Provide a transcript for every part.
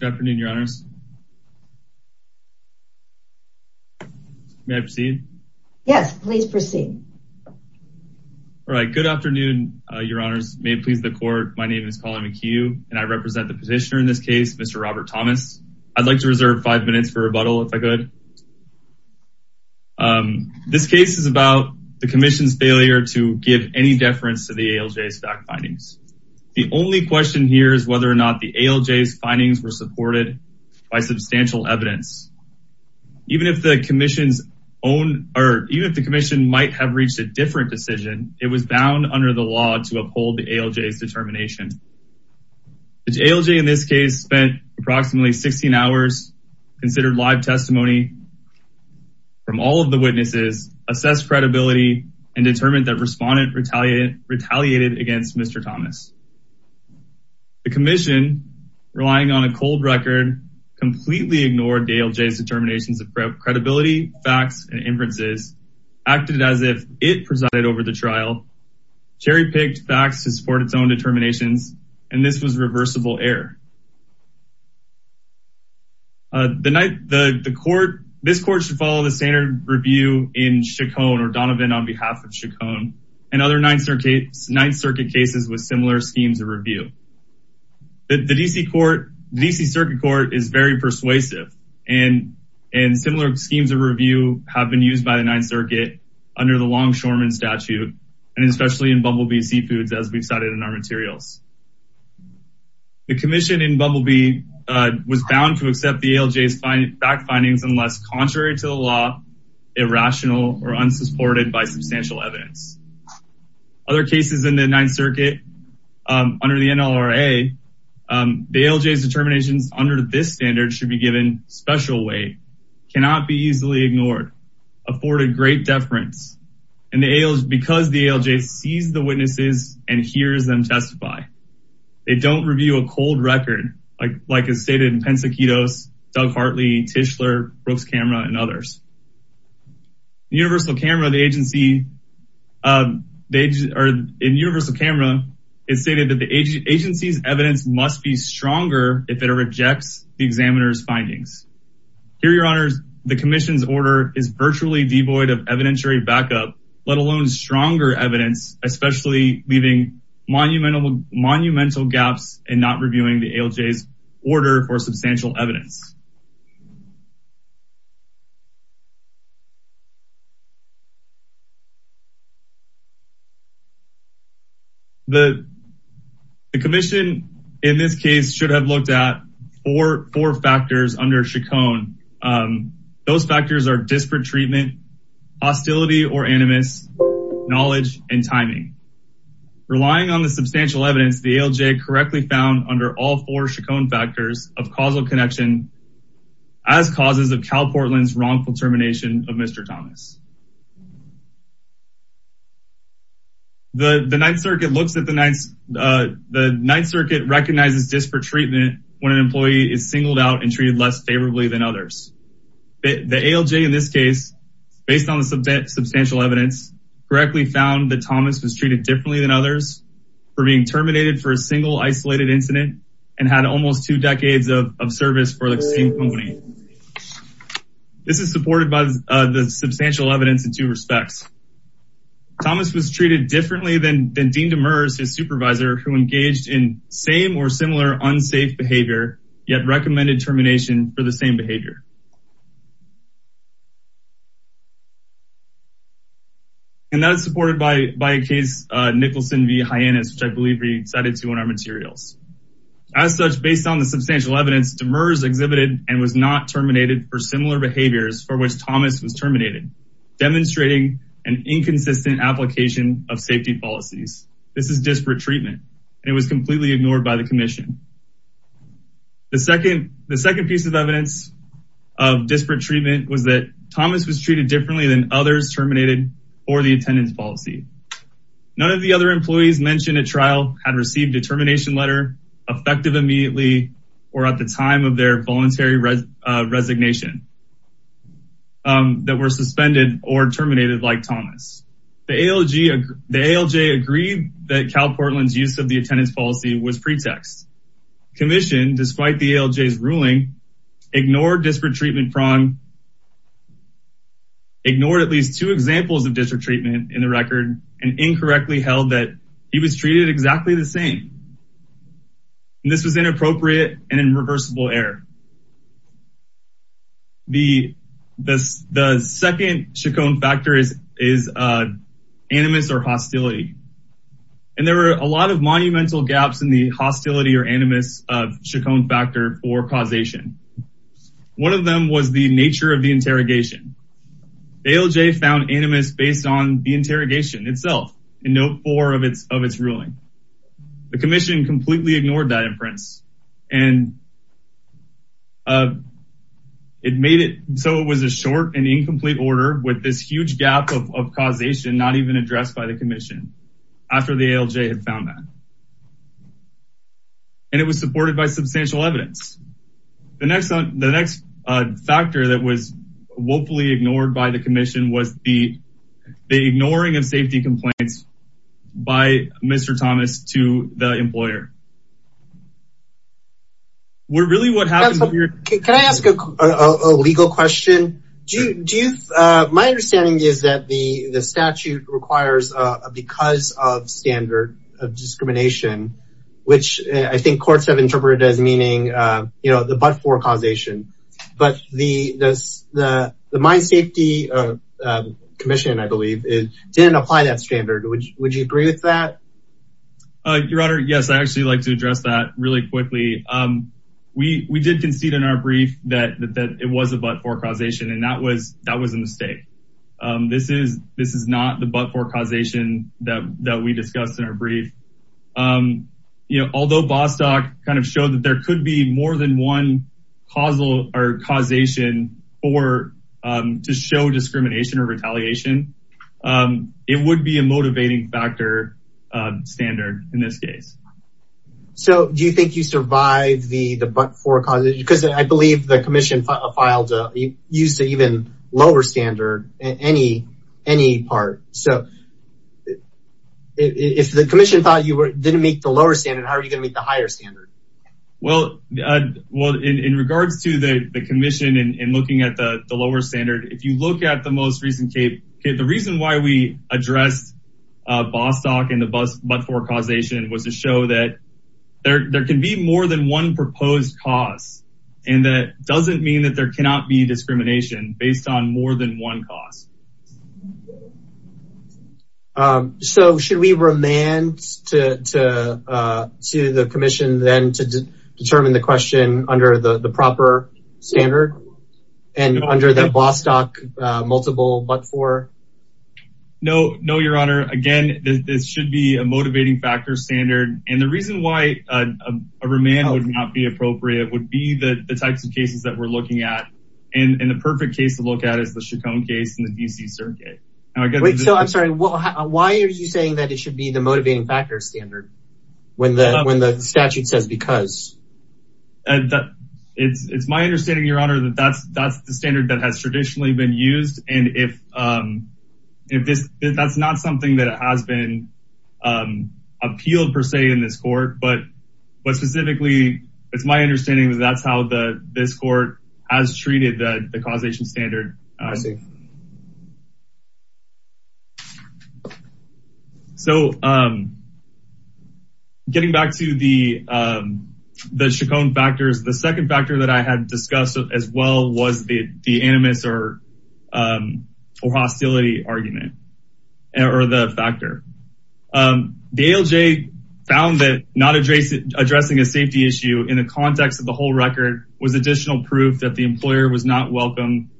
Good afternoon, your honors. May I proceed? Yes, please proceed. All right, good afternoon, your honors. May it please the court, my name is Colin McHugh, and I represent the petitioner in this case, Mr. Robert Thomas. I'd like to reserve five minutes for rebuttal, if I could. This case is about the commission's failure to give any deference to the ALJ's fact findings. The only question here is whether or not the ALJ's findings were supported by substantial evidence. Even if the commission might have reached a different decision, it was bound under the law to uphold the ALJ's determination. The ALJ in this case spent approximately 16 hours, considered live testimony from all of the witnesses, assessed credibility, and determined that respondent retaliated against Mr. Thomas. The commission, relying on a cold record, completely ignored the ALJ's determinations of credibility, facts, and inferences, acted as if it presided over the trial, cherry-picked facts to support its own determinations, and this was reversible error. This court should follow the standard review in Chaconne, or Donovan on behalf of Chaconne, and other Ninth Circuit cases with similar schemes of review. The DC Circuit Court is very persuasive, and similar schemes of review have been used by the Ninth Circuit under the Longshoreman Statute, and especially in Bumblebee Seafoods, as we've cited in our materials. The commission in Bumblebee was bound to accept the ALJ's fact findings unless contrary to the law, irrational, or unsupported by substantial evidence. Other cases in the Ninth Circuit, under the NLRA, the ALJ's determinations under this standard should be given special weight, cannot be easily ignored, afforded great deference, and because the ALJ sees the They don't review a cold record, like is stated in Pensacito's, Doug Hartley, Tischler, Brooks Camera, and others. In Universal Camera, it's stated that the agency's evidence must be stronger if it rejects the examiner's findings. Here, your honors, the commission's order is virtually devoid of evidentiary backup, let alone stronger evidence, especially leaving monumental gaps in not reviewing the ALJ's order for substantial evidence. The commission, in this case, should have looked at four factors under Chacon. Those factors are disparate treatment, hostility or animus, knowledge, and timing. Relying on the substantial evidence, the ALJ correctly found under all four Chacon factors of causal connection as causes of Cal Portland's wrongful termination of Mr. Thomas. The Ninth Circuit recognizes disparate treatment when an employee is singled out and treated less than others. The ALJ, in this case, based on the substantial evidence, correctly found that Thomas was treated differently than others for being terminated for a single isolated incident and had almost two decades of service for the same company. This is supported by the substantial evidence in two respects. Thomas was treated differently than Dean Demers, his supervisor, who engaged in same or similar unsafe behavior, yet recommended termination for the same behavior. And that is supported by a case, Nicholson v. Hyannis, which I believe we cited to in our materials. As such, based on the substantial evidence, Demers exhibited and was not terminated for similar behaviors for which Thomas was terminated, demonstrating an inconsistent application of safety policies. This is disparate treatment, and it was completely ignored by the commission. The second piece of evidence of disparate treatment was that Thomas was treated differently than others terminated for the attendance policy. None of the other employees mentioned at trial had received a termination letter effective immediately or at the time of their voluntary resignation that were suspended or terminated like Thomas. The ALJ agreed that Cal Portland's use of the attendance policy was pretext. The commission, despite the ALJ's ruling, ignored disparate treatment prong, ignored at least two examples of disparate treatment in the record, and incorrectly held that he was treated exactly the same. This was inappropriate and an irreversible error. The second Chacon factor is animus or hostility. And there were a lot of monumental gaps in the hostility or animus of Chacon factor for causation. One of them was the nature of the interrogation. ALJ found animus based on the interrogation itself in note four of its ruling. The commission completely ignored that inference. So it was a short and incomplete order with this huge gap of causation not even addressed by the commission after the ALJ had found that. And it was supported by substantial evidence. The next factor that was woefully ignored by the commission was the ignoring of safety complaints by Mr. Thomas to the employer. Can I ask a legal question? My understanding is that the statute requires a because of standard of discrimination, which I think courts have interpreted as meaning, you know, but-for causation. But the Mine Safety Commission, I believe, didn't apply that standard. Would you agree with that? Your Honor, yes, I'd actually like to address that really quickly. We did concede in our brief that it was a but-for causation, and that was a mistake. This is not the but-for causation that we discussed in our brief. Although Bostock kind of showed that there could be more than one causal or causation to show discrimination or retaliation, it would be a motivating factor standard in this case. So do you think you survive the but-for causation? Because I believe the commission filed a use of even lower standard in any part. So if the commission thought you didn't make the lower standard, how are you going to make the higher standard? Well, in regards to the commission and looking at the lower standard, if you look at the most recent case, the reason why we addressed Bostock and the but-for causation was to show that there can be more than one proposed cause. And that doesn't mean that there cannot be discrimination based on more than one cause. So should we remand to the commission then to determine the question under the proper standard and under the Bostock multiple but-for? No, your honor. Again, this should be a motivating factor standard. And the reason why a remand would not be appropriate would be the types of cases that we're looking at. And the perfect case to look at is the Chaconne case in the DC Circuit. Wait, so I'm sorry. Why are you saying that it should be the motivating factor standard when the statute says because? It's my understanding, your honor, that that's the standard that has traditionally been used. And that's not something that has been appealed per se in this court. But specifically, it's my understanding that that's how this court has treated the causation standard. I see. So getting back to the Chaconne factors, the second factor that I had discussed as well was the animus or hostility argument or the factor. The ALJ found that not addressing a safety issue in the context of the whole record was additional proof that the employer was not welcome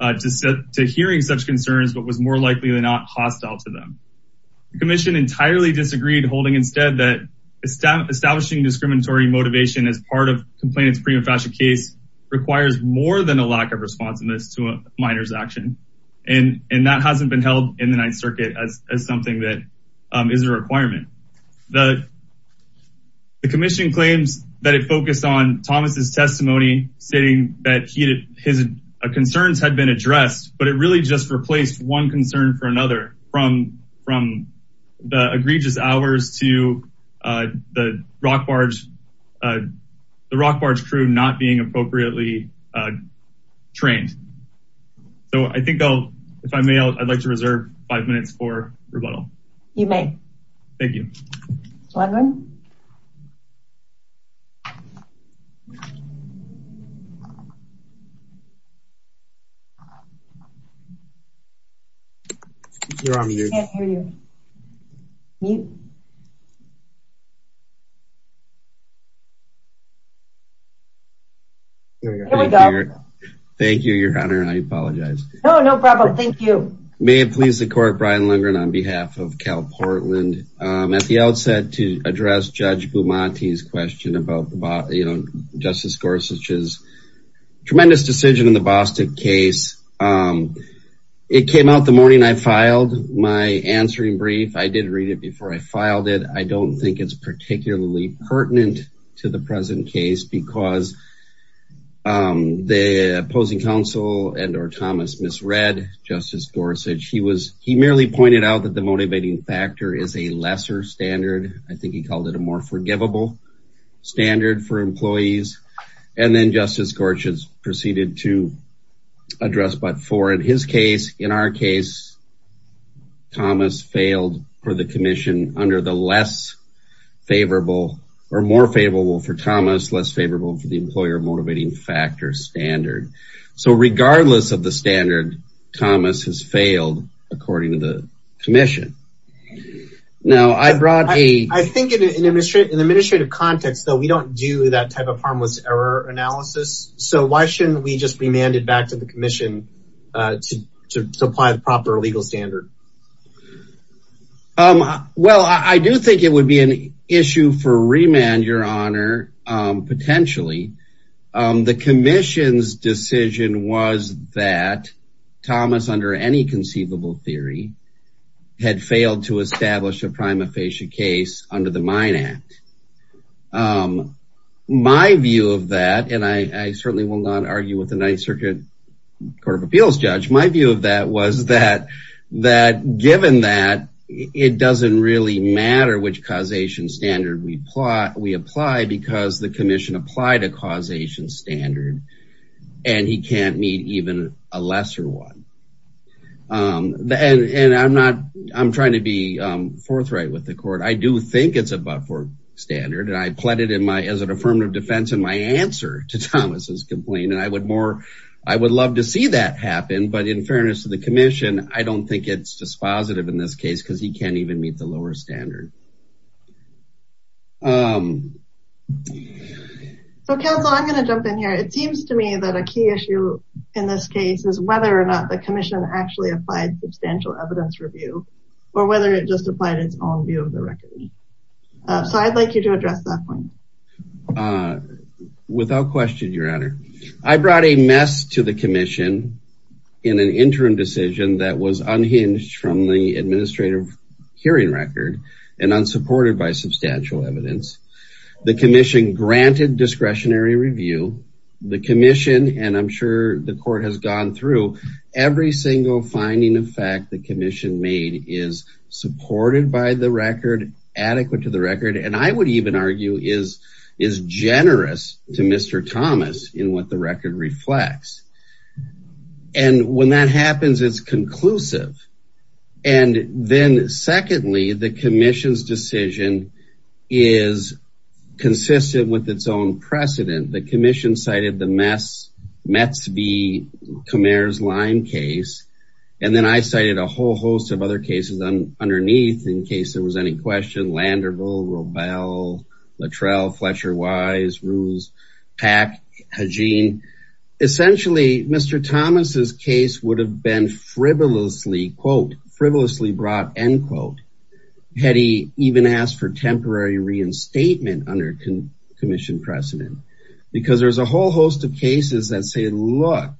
to hearing such concerns, but was more likely than not hostile to them. The commission entirely disagreed, holding instead that establishing discriminatory motivation as part of complainant's prima facie case requires more than a lack of responsiveness to a minor's action. And that hasn't been held in the Ninth Circuit as something that is a requirement. The commission claims that it focused on Thomas's testimony, stating that his concerns had been addressed, but it really just replaced one concern for another from the egregious hours to the Rock Barge crew not being appropriately trained. So I think if I may, I'd like to Thank you, your honor. I apologize. No, no problem. Thank you. May it please the court, on behalf of Cal Portland, at the outset to address Judge Bumate's question about Justice Gorsuch's tremendous decision in the Boston case. It came out the morning I filed my answering brief. I did read it before I filed it. I don't think it's particularly pertinent to the present case because the opposing counsel and or Thomas misread Justice Gorsuch. He merely pointed out that the motivating factor is a lesser standard. I think he called it a more forgivable standard for employees. And then Justice Gorsuch proceeded to address but for in his case, in our case, Thomas failed for the commission under the less favorable or more favorable for Thomas, less favorable for the employer motivating factor standard. So regardless of the standard, Thomas has failed, according to the commission. Now I brought a... I think in an administrative context, though, we don't do that type of harmless error analysis. So why shouldn't we just remand it back to the commission to supply the proper legal standard? Well, I do think it would be an issue for remand, your honor, potentially. The commission's decision was that Thomas, under any conceivable theory, had failed to establish a prima facie case under the Mine Act. My view of that, and I certainly will not argue with the Ninth Circuit Court of Appeals judge, my view of that was that given that, it doesn't really matter which causation standard we apply because the commission applied a causation standard and he can't meet even a lesser one. And I'm not... I'm trying to be forthright with the court. I do think it's a but-for standard and I pled it in my... as an affirmative defense in my answer to Thomas's complaint. And I would more... I would love to see that happen, but in fairness to the commission, I don't think it's dispositive in this case because he can't even meet the lower standard. So, counsel, I'm going to jump in here. It seems to me that a key issue in this case is whether or not the commission actually applied substantial evidence review or whether it just applied its own view of the record. So I'd like you to address that point. Without question, your honor. I brought a mess to the commission in an interim decision that was unhinged from the administrative hearing record and unsupported by substantial evidence. The commission granted discretionary review. The commission, and I'm sure the court has gone through, every single finding of fact the commission made is supported by the record, adequate to the record, and I would even argue is generous to Mr. Thomas in what the record reflects. And when that happens, it's conclusive. And then secondly, the commission's decision is consistent with its own precedent. The commission cited the Metz v. Khmer's Lyme case, and then I cited a whole host of other cases underneath in case there was any question. Landerville, Roebel, Luttrell, Fletcher-Wise, Ruse, Pack, Hagine. Essentially, Mr. Thomas's case would have been frivolously, quote, frivolously brought, end quote, had he even asked for temporary reinstatement under commission precedent. Because there's a whole host of cases that say, look,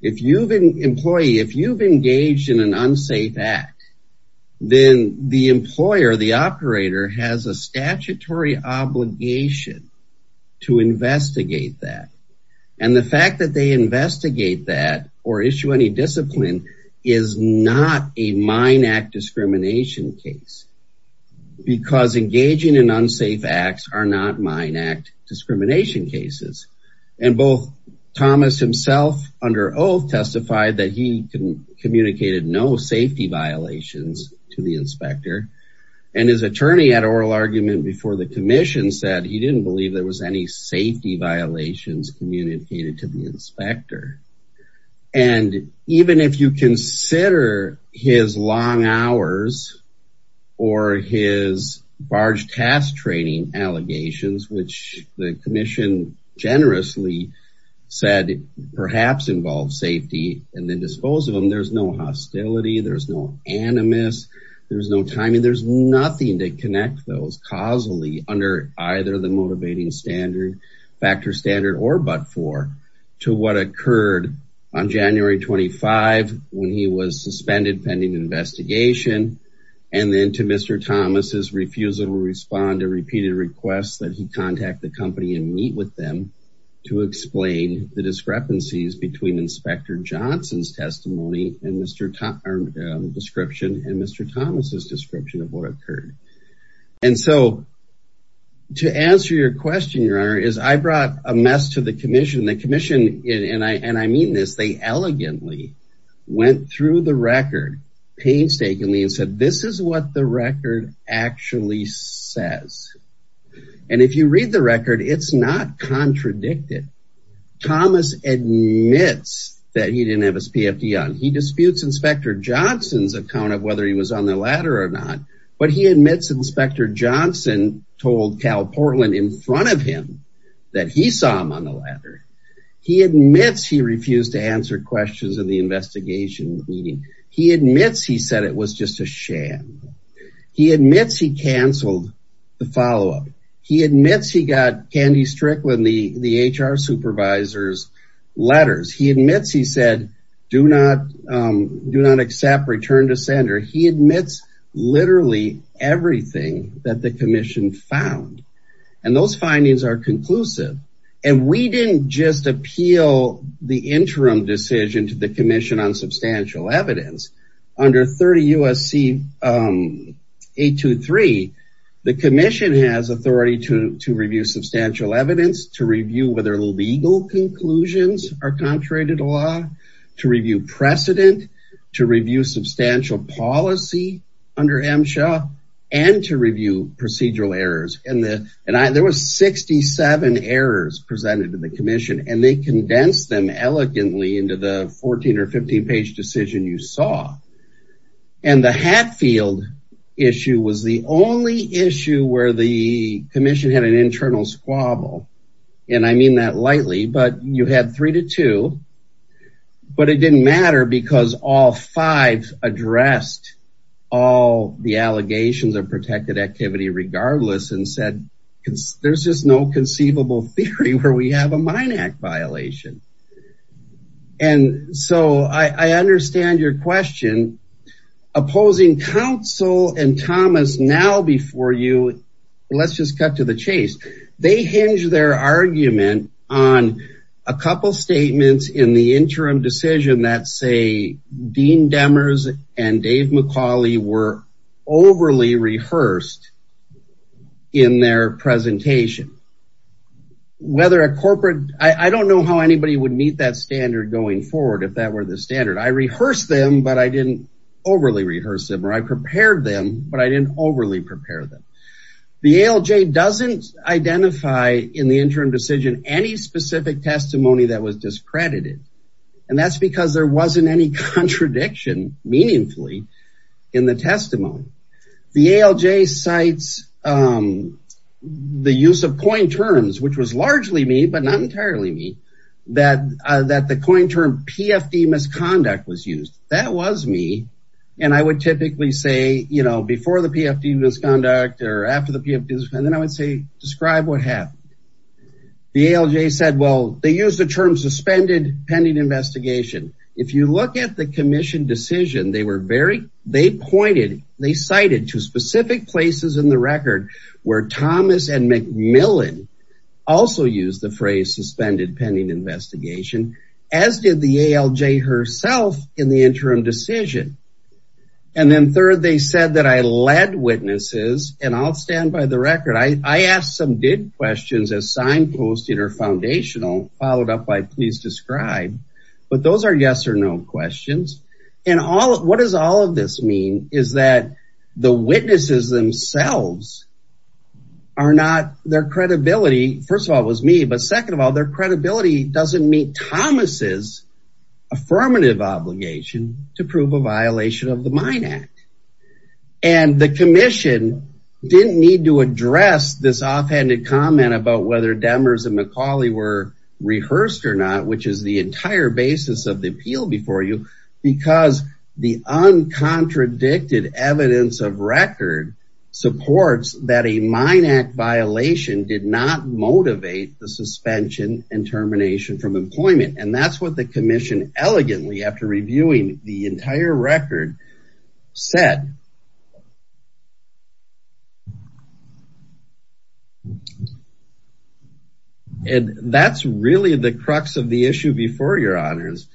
if you've been employee, if you've engaged in an unsafe act, then the employer, the operator has a statutory obligation to investigate that. And the fact that they investigate that or issue any discipline is not a mine act discrimination case. Because engaging in unsafe acts are not mine act discrimination cases. And both Thomas himself under oath testified that he communicated no violations to the inspector. And his attorney had oral argument before the commission said he didn't believe there was any safety violations communicated to the inspector. And even if you consider his long hours or his barge task training allegations, which the commission generously said perhaps involved safety and then dispose of them, there's no hostility, there's no animus, there's no timing, there's nothing to connect those causally under either the motivating factor standard or but for to what occurred on January 25, when he was suspended pending investigation. And then to Mr. Thomas's refusal to respond to repeated requests that he contact the company and meet with them to explain the discrepancies between Inspector Johnson's Mr. Thompson description and Mr. Thomas's description of what occurred. And so to answer your question, your honor is I brought a mess to the commission, the commission, and I mean this, they elegantly went through the record painstakingly and said, this is what the record actually says. And if you read the record, it's not contradicted. Thomas admits that he didn't he disputes Inspector Johnson's account of whether he was on the ladder or not, but he admits Inspector Johnson told Cal Portland in front of him that he saw him on the ladder. He admits he refused to answer questions in the investigation meeting. He admits he said it was just a sham. He admits he canceled the follow-up. He admits he got Candy Strickland, the HR supervisor's said, do not accept return to center. He admits literally everything that the commission found. And those findings are conclusive. And we didn't just appeal the interim decision to the commission on substantial evidence. Under 30 USC 823, the commission has authority to review substantial evidence, to review whether legal conclusions are contrary to the law, to review precedent, to review substantial policy under MSHA, and to review procedural errors. And there was 67 errors presented to the commission, and they condensed them elegantly into the 14 or 15 page decision you saw. And the Hatfield issue was the only issue where the commission had an internal squabble. And I mean that lightly, but you had three to two, but it didn't matter because all five addressed all the allegations of protected activity regardless and said, there's just no conceivable theory where we have a Mine Act violation. And so I understand your question. Opposing counsel and Thomas now before you, let's just cut to the chase. They hinge their argument on a couple statements in the interim decision that say Dean Demers and Dave McCauley were overly rehearsed in their presentation. Whether a corporate, I don't know how anybody would meet that standard going forward if that were the standard. I rehearsed them, but I didn't overly rehearse them or I prepared them, but I didn't overly prepare them. The ALJ doesn't identify in the interim decision any specific testimony that was discredited. And that's because there wasn't any contradiction meaningfully in the testimony. The ALJ cites the use of coin terms, which was largely me, but not entirely me, that the coin term PFD misconduct was used. That was me. And I would typically say, you know, before the PFD misconduct or after the PFD, and then I would say, describe what happened. The ALJ said, well, they used the term suspended pending investigation. If you look at the commission decision, they were very, they pointed, they cited two specific places in the record where Thomas and McMillan also used the phrase suspended pending investigation, as did the ALJ herself in the interim decision. And then third, they said that I led witnesses and I'll stand by the record. I asked some big questions as signposted or foundational followed up by please describe, but those are yes or no questions. And all, what does all of this mean is that the witnesses themselves are not their credibility. First of all, it was me, but second of all, their credibility doesn't meet Thomas's affirmative obligation to prove a violation of the Mine Act. And the commission didn't need to address this offhanded comment about whether Demers and McCauley were rehearsed or not, which is the entire basis of the appeal before you, because the uncontradicted evidence of record supports that a Mine Act violation did not motivate the suspension and termination from employment. And that's what the commission elegantly after said. And that's really the crux of the issue before your honors.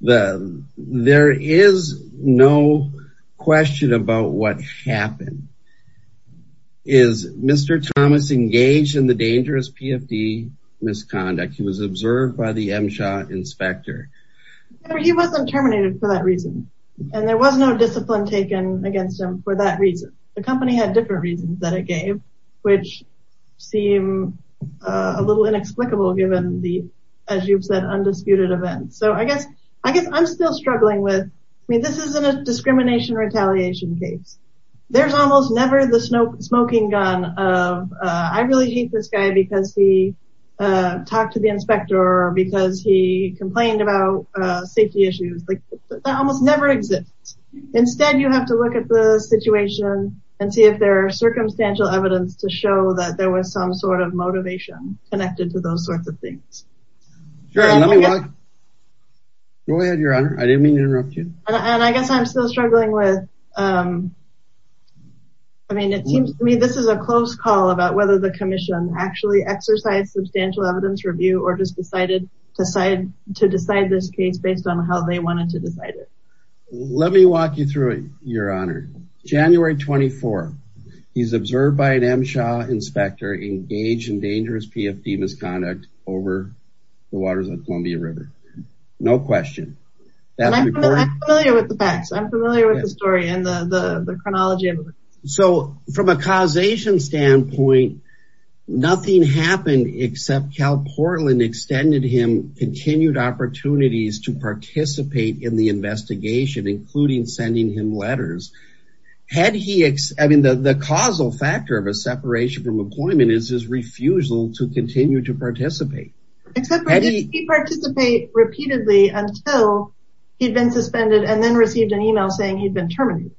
There is no question about what happened. Is Mr. Thomas engaged in the dangerous PFD misconduct? He was observed by the company had different reasons that it gave, which seem a little inexplicable given the, as you've said, undisputed events. So I guess, I guess I'm still struggling with, I mean, this isn't a discrimination retaliation case. There's almost never the smoke smoking gun of I really hate this guy because he talked to the inspector because he complained about safety issues. Like that almost never exists. Instead, you have to look at the situation and see if there are circumstantial evidence to show that there was some sort of motivation connected to those sorts of things. And I guess I'm still struggling with, I mean, it seems to me, this is a close call about whether the commission actually exercised substantial evidence review or just decided to decide this case based on how they wanted to decide it. Let me walk you through it. Your honor, January 24. He's observed by an MSHA inspector engaged in dangerous PFD misconduct over the waters of Columbia river. No question. I'm familiar with the facts. I'm familiar with the story and the chronology. So from a causation standpoint, nothing happened except Cal Portland extended him continued opportunities to participate in the investigation, including sending him letters. Had he, I mean the, the causal factor of a separation from employment is his refusal to continue to participate. He participate repeatedly until he'd been suspended and then received an email saying he'd been terminated.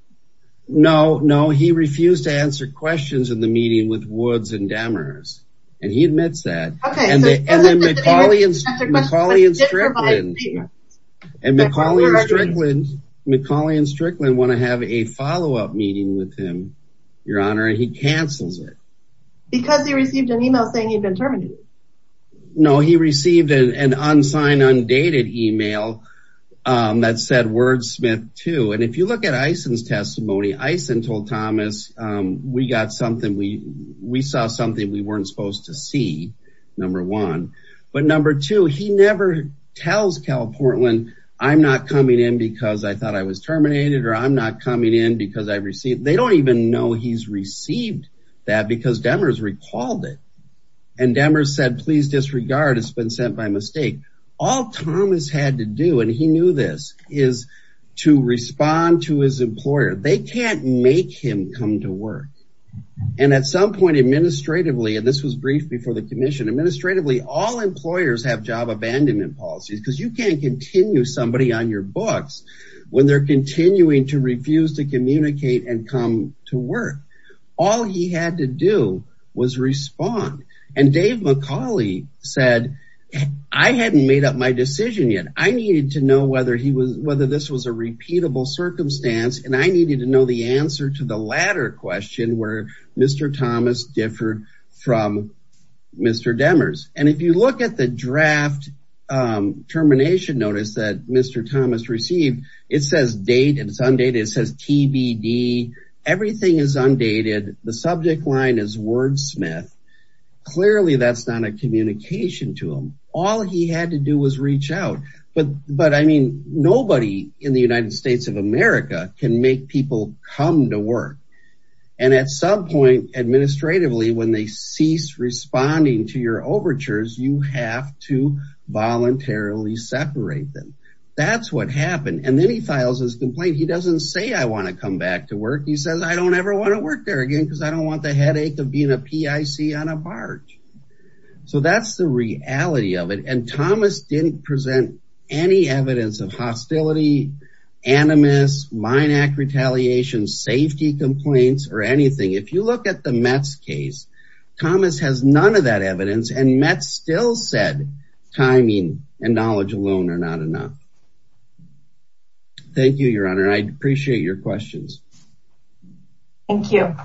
No, no. He refused to answer questions in the meeting with Woods and Demers. And he admits that. And then McCauley and Strickland want to have a follow-up meeting with him, your honor, and he cancels it. Because he received an email saying he'd been terminated. No, he received an unsigned, undated email that said wordsmith too. And if you look at Eisen's testimony, Eisen told Thomas, we got something. We, we saw something we weren't supposed to see number one, but number two, he never tells Cal Portland I'm not coming in because I thought I was terminated or I'm not coming in because I received, they don't even know he's received that because Demers recalled it. And Demers said, please disregard. It's been sent by mistake. All Thomas had to do. And he knew this is to respond to his employer. They can't make him come to work. And at some point administratively, and this was brief before the commission administratively, all employers have job abandonment policies because you can't continue somebody on your books when they're continuing to refuse to communicate and come to work. All he had to do was respond. And Dave McCauley said, I hadn't made up my decision yet. I needed to know whether he was, whether this was a repeatable circumstance. And I needed to know the answer to the latter question where Mr. Thomas differed from Mr. Demers. And if you look at the is undated, the subject line is wordsmith. Clearly that's not a communication to him. All he had to do was reach out. But, but I mean, nobody in the United States of America can make people come to work. And at some point administratively, when they cease responding to your overtures, you have to voluntarily separate them. That's what happened. And then he doesn't say, I want to come back to work. He says, I don't ever want to work there again because I don't want the headache of being a PIC on a barge. So that's the reality of it. And Thomas didn't present any evidence of hostility, animus, mine act retaliation, safety complaints, or anything. If you look at the Mets case, Thomas has none of that evidence. And Mets still said timing and knowledge alone are not enough. Thank you, your honor. I appreciate your questions. Thank you.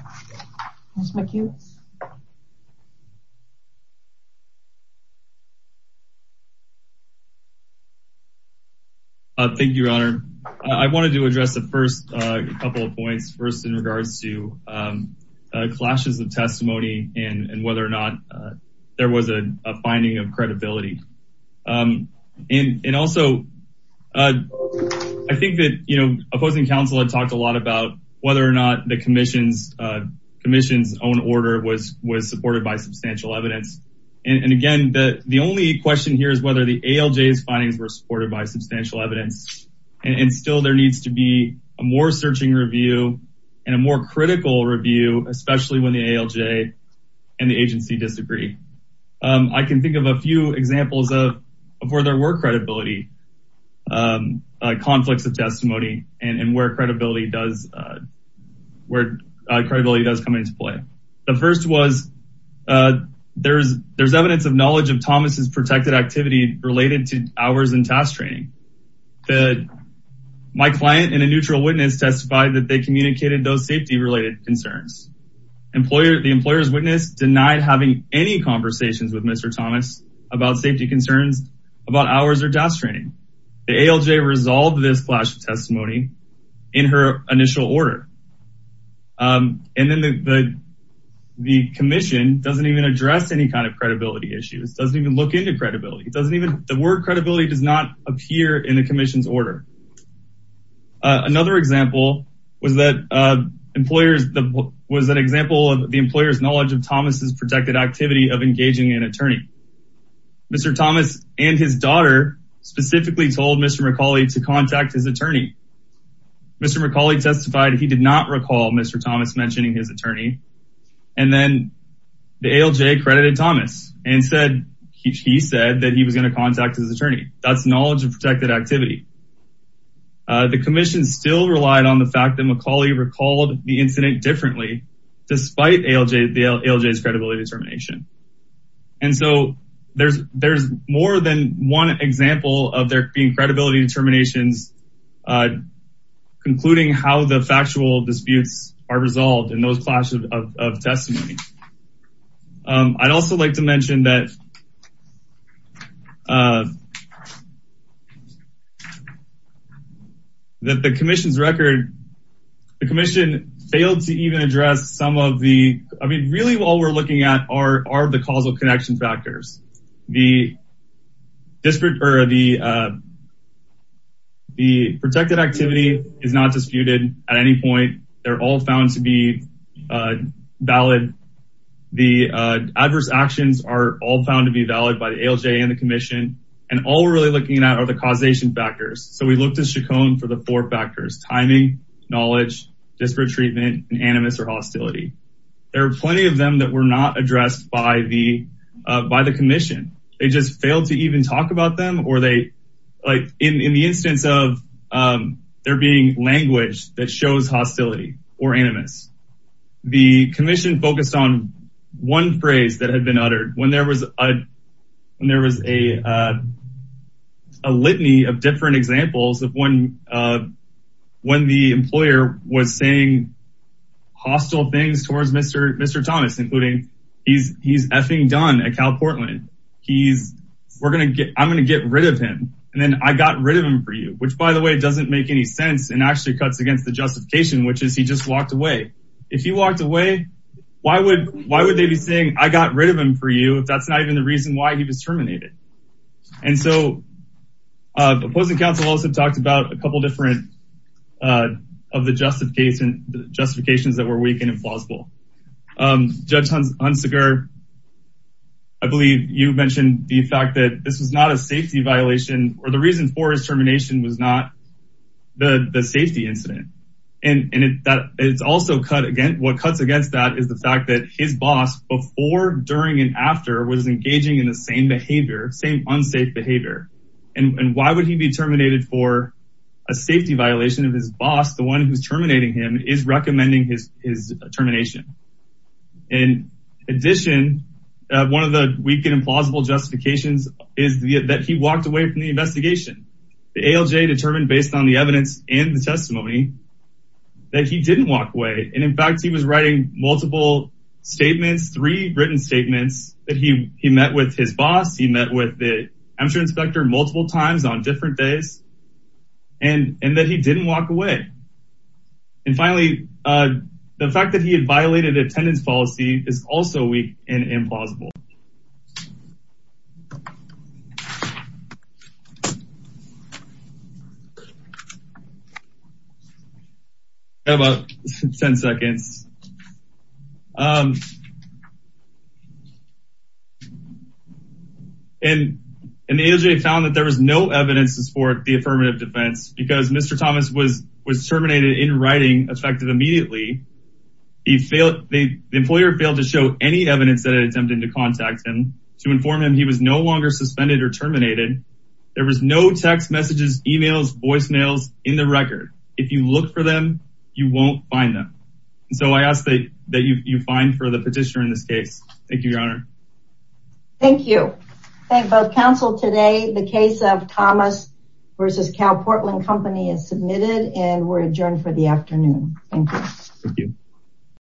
Thank you, your honor. I wanted to address the first couple of points first in regards to testimony and whether or not there was a finding of credibility. And also I think that, you know, opposing counsel had talked a lot about whether or not the commission's own order was supported by substantial evidence. And again, the only question here is whether the ALJ's findings were supported by substantial evidence. And still there needs to be a more searching review and a more critical review, especially when the ALJ and the agency disagree. I can think of a few examples of where there were credibility, conflicts of testimony and where credibility does come into play. The first was there's evidence of knowledge of Thomas's protected activity related to hours in task training. My client and a neutral witness testified that they communicated those safety related concerns. The employer's witness denied having any conversations with Mr. Thomas about safety concerns about hours or task training. The ALJ resolved this clash of testimony in her initial order. And then the commission doesn't even address any kind of credibility issues, doesn't even look into credibility. It doesn't appear in the commission's order. Another example was that the employer's knowledge of Thomas's protected activity of engaging an attorney. Mr. Thomas and his daughter specifically told Mr. McCauley to contact his attorney. Mr. McCauley testified he did not recall Mr. Thomas mentioning his attorney. And then the ALJ credited Thomas and said he said that he was going to contact his attorney. That's knowledge of protected activity. The commission still relied on the fact that McCauley recalled the incident differently despite the ALJ's credibility determination. And so there's more than one example of there being credibility determinations concluding how the factual disputes are resolved in those clashes of testimony. I'd also like to mention that that the commission's record, the commission failed to even address some of the, I mean, really all we're looking at are the causal connection factors. The protected activity is not disputed at any point. They're all found to be valid. The adverse actions are all found to be valid by the ALJ and the commission. And all we're really looking at are the causation factors. So we looked at Chaconne for the four factors, timing, knowledge, disparate treatment, and animus or hostility. There are plenty of them that were not addressed by the commission. They just language that shows hostility or animus. The commission focused on one phrase that had been uttered when there was a litany of different examples of when the employer was saying hostile things towards Mr. Thomas, including he's effing done at Cal Portland. I'm going to get rid of him. And then I got rid of him for you, which by the way, doesn't make any sense and actually cuts against the justification, which is he just walked away. If he walked away, why would they be saying, I got rid of him for you? If that's not even the reason why he was terminated. And so the opposing counsel also talked about a couple different of the justification, justifications that were weak and implausible. Judge Hunziker, I believe you mentioned the fact that this was not a safety violation or the reason for his the safety incident. And that it's also cut against what cuts against that is the fact that his boss before, during, and after was engaging in the same behavior, same unsafe behavior. And why would he be terminated for a safety violation of his boss? The one who's terminating him is recommending his termination. In addition, one of the weak and implausible justifications is that he walked away from the investigation. The ALJ determined based on the evidence and the testimony that he didn't walk away. And in fact, he was writing multiple statements, three written statements that he met with his boss. He met with the Amtrak inspector multiple times on different days and that he didn't walk away. And finally, the fact that he had violated attendance policy is also weak and implausible. I have about 10 seconds. And the ALJ found that there was no evidence to support the affirmative defense because Mr. effective immediately. The employer failed to show any evidence that attempted to contact him to inform him he was no longer suspended or terminated. There was no text messages, emails, voicemails in the record. If you look for them, you won't find them. So I ask that you find for the petitioner in this case. Thank you, your honor. Thank you. Thank both counsel today. The case of Thomas versus Cal Portland company is submitted and we're adjourned for the afternoon. Thank you. Thank you.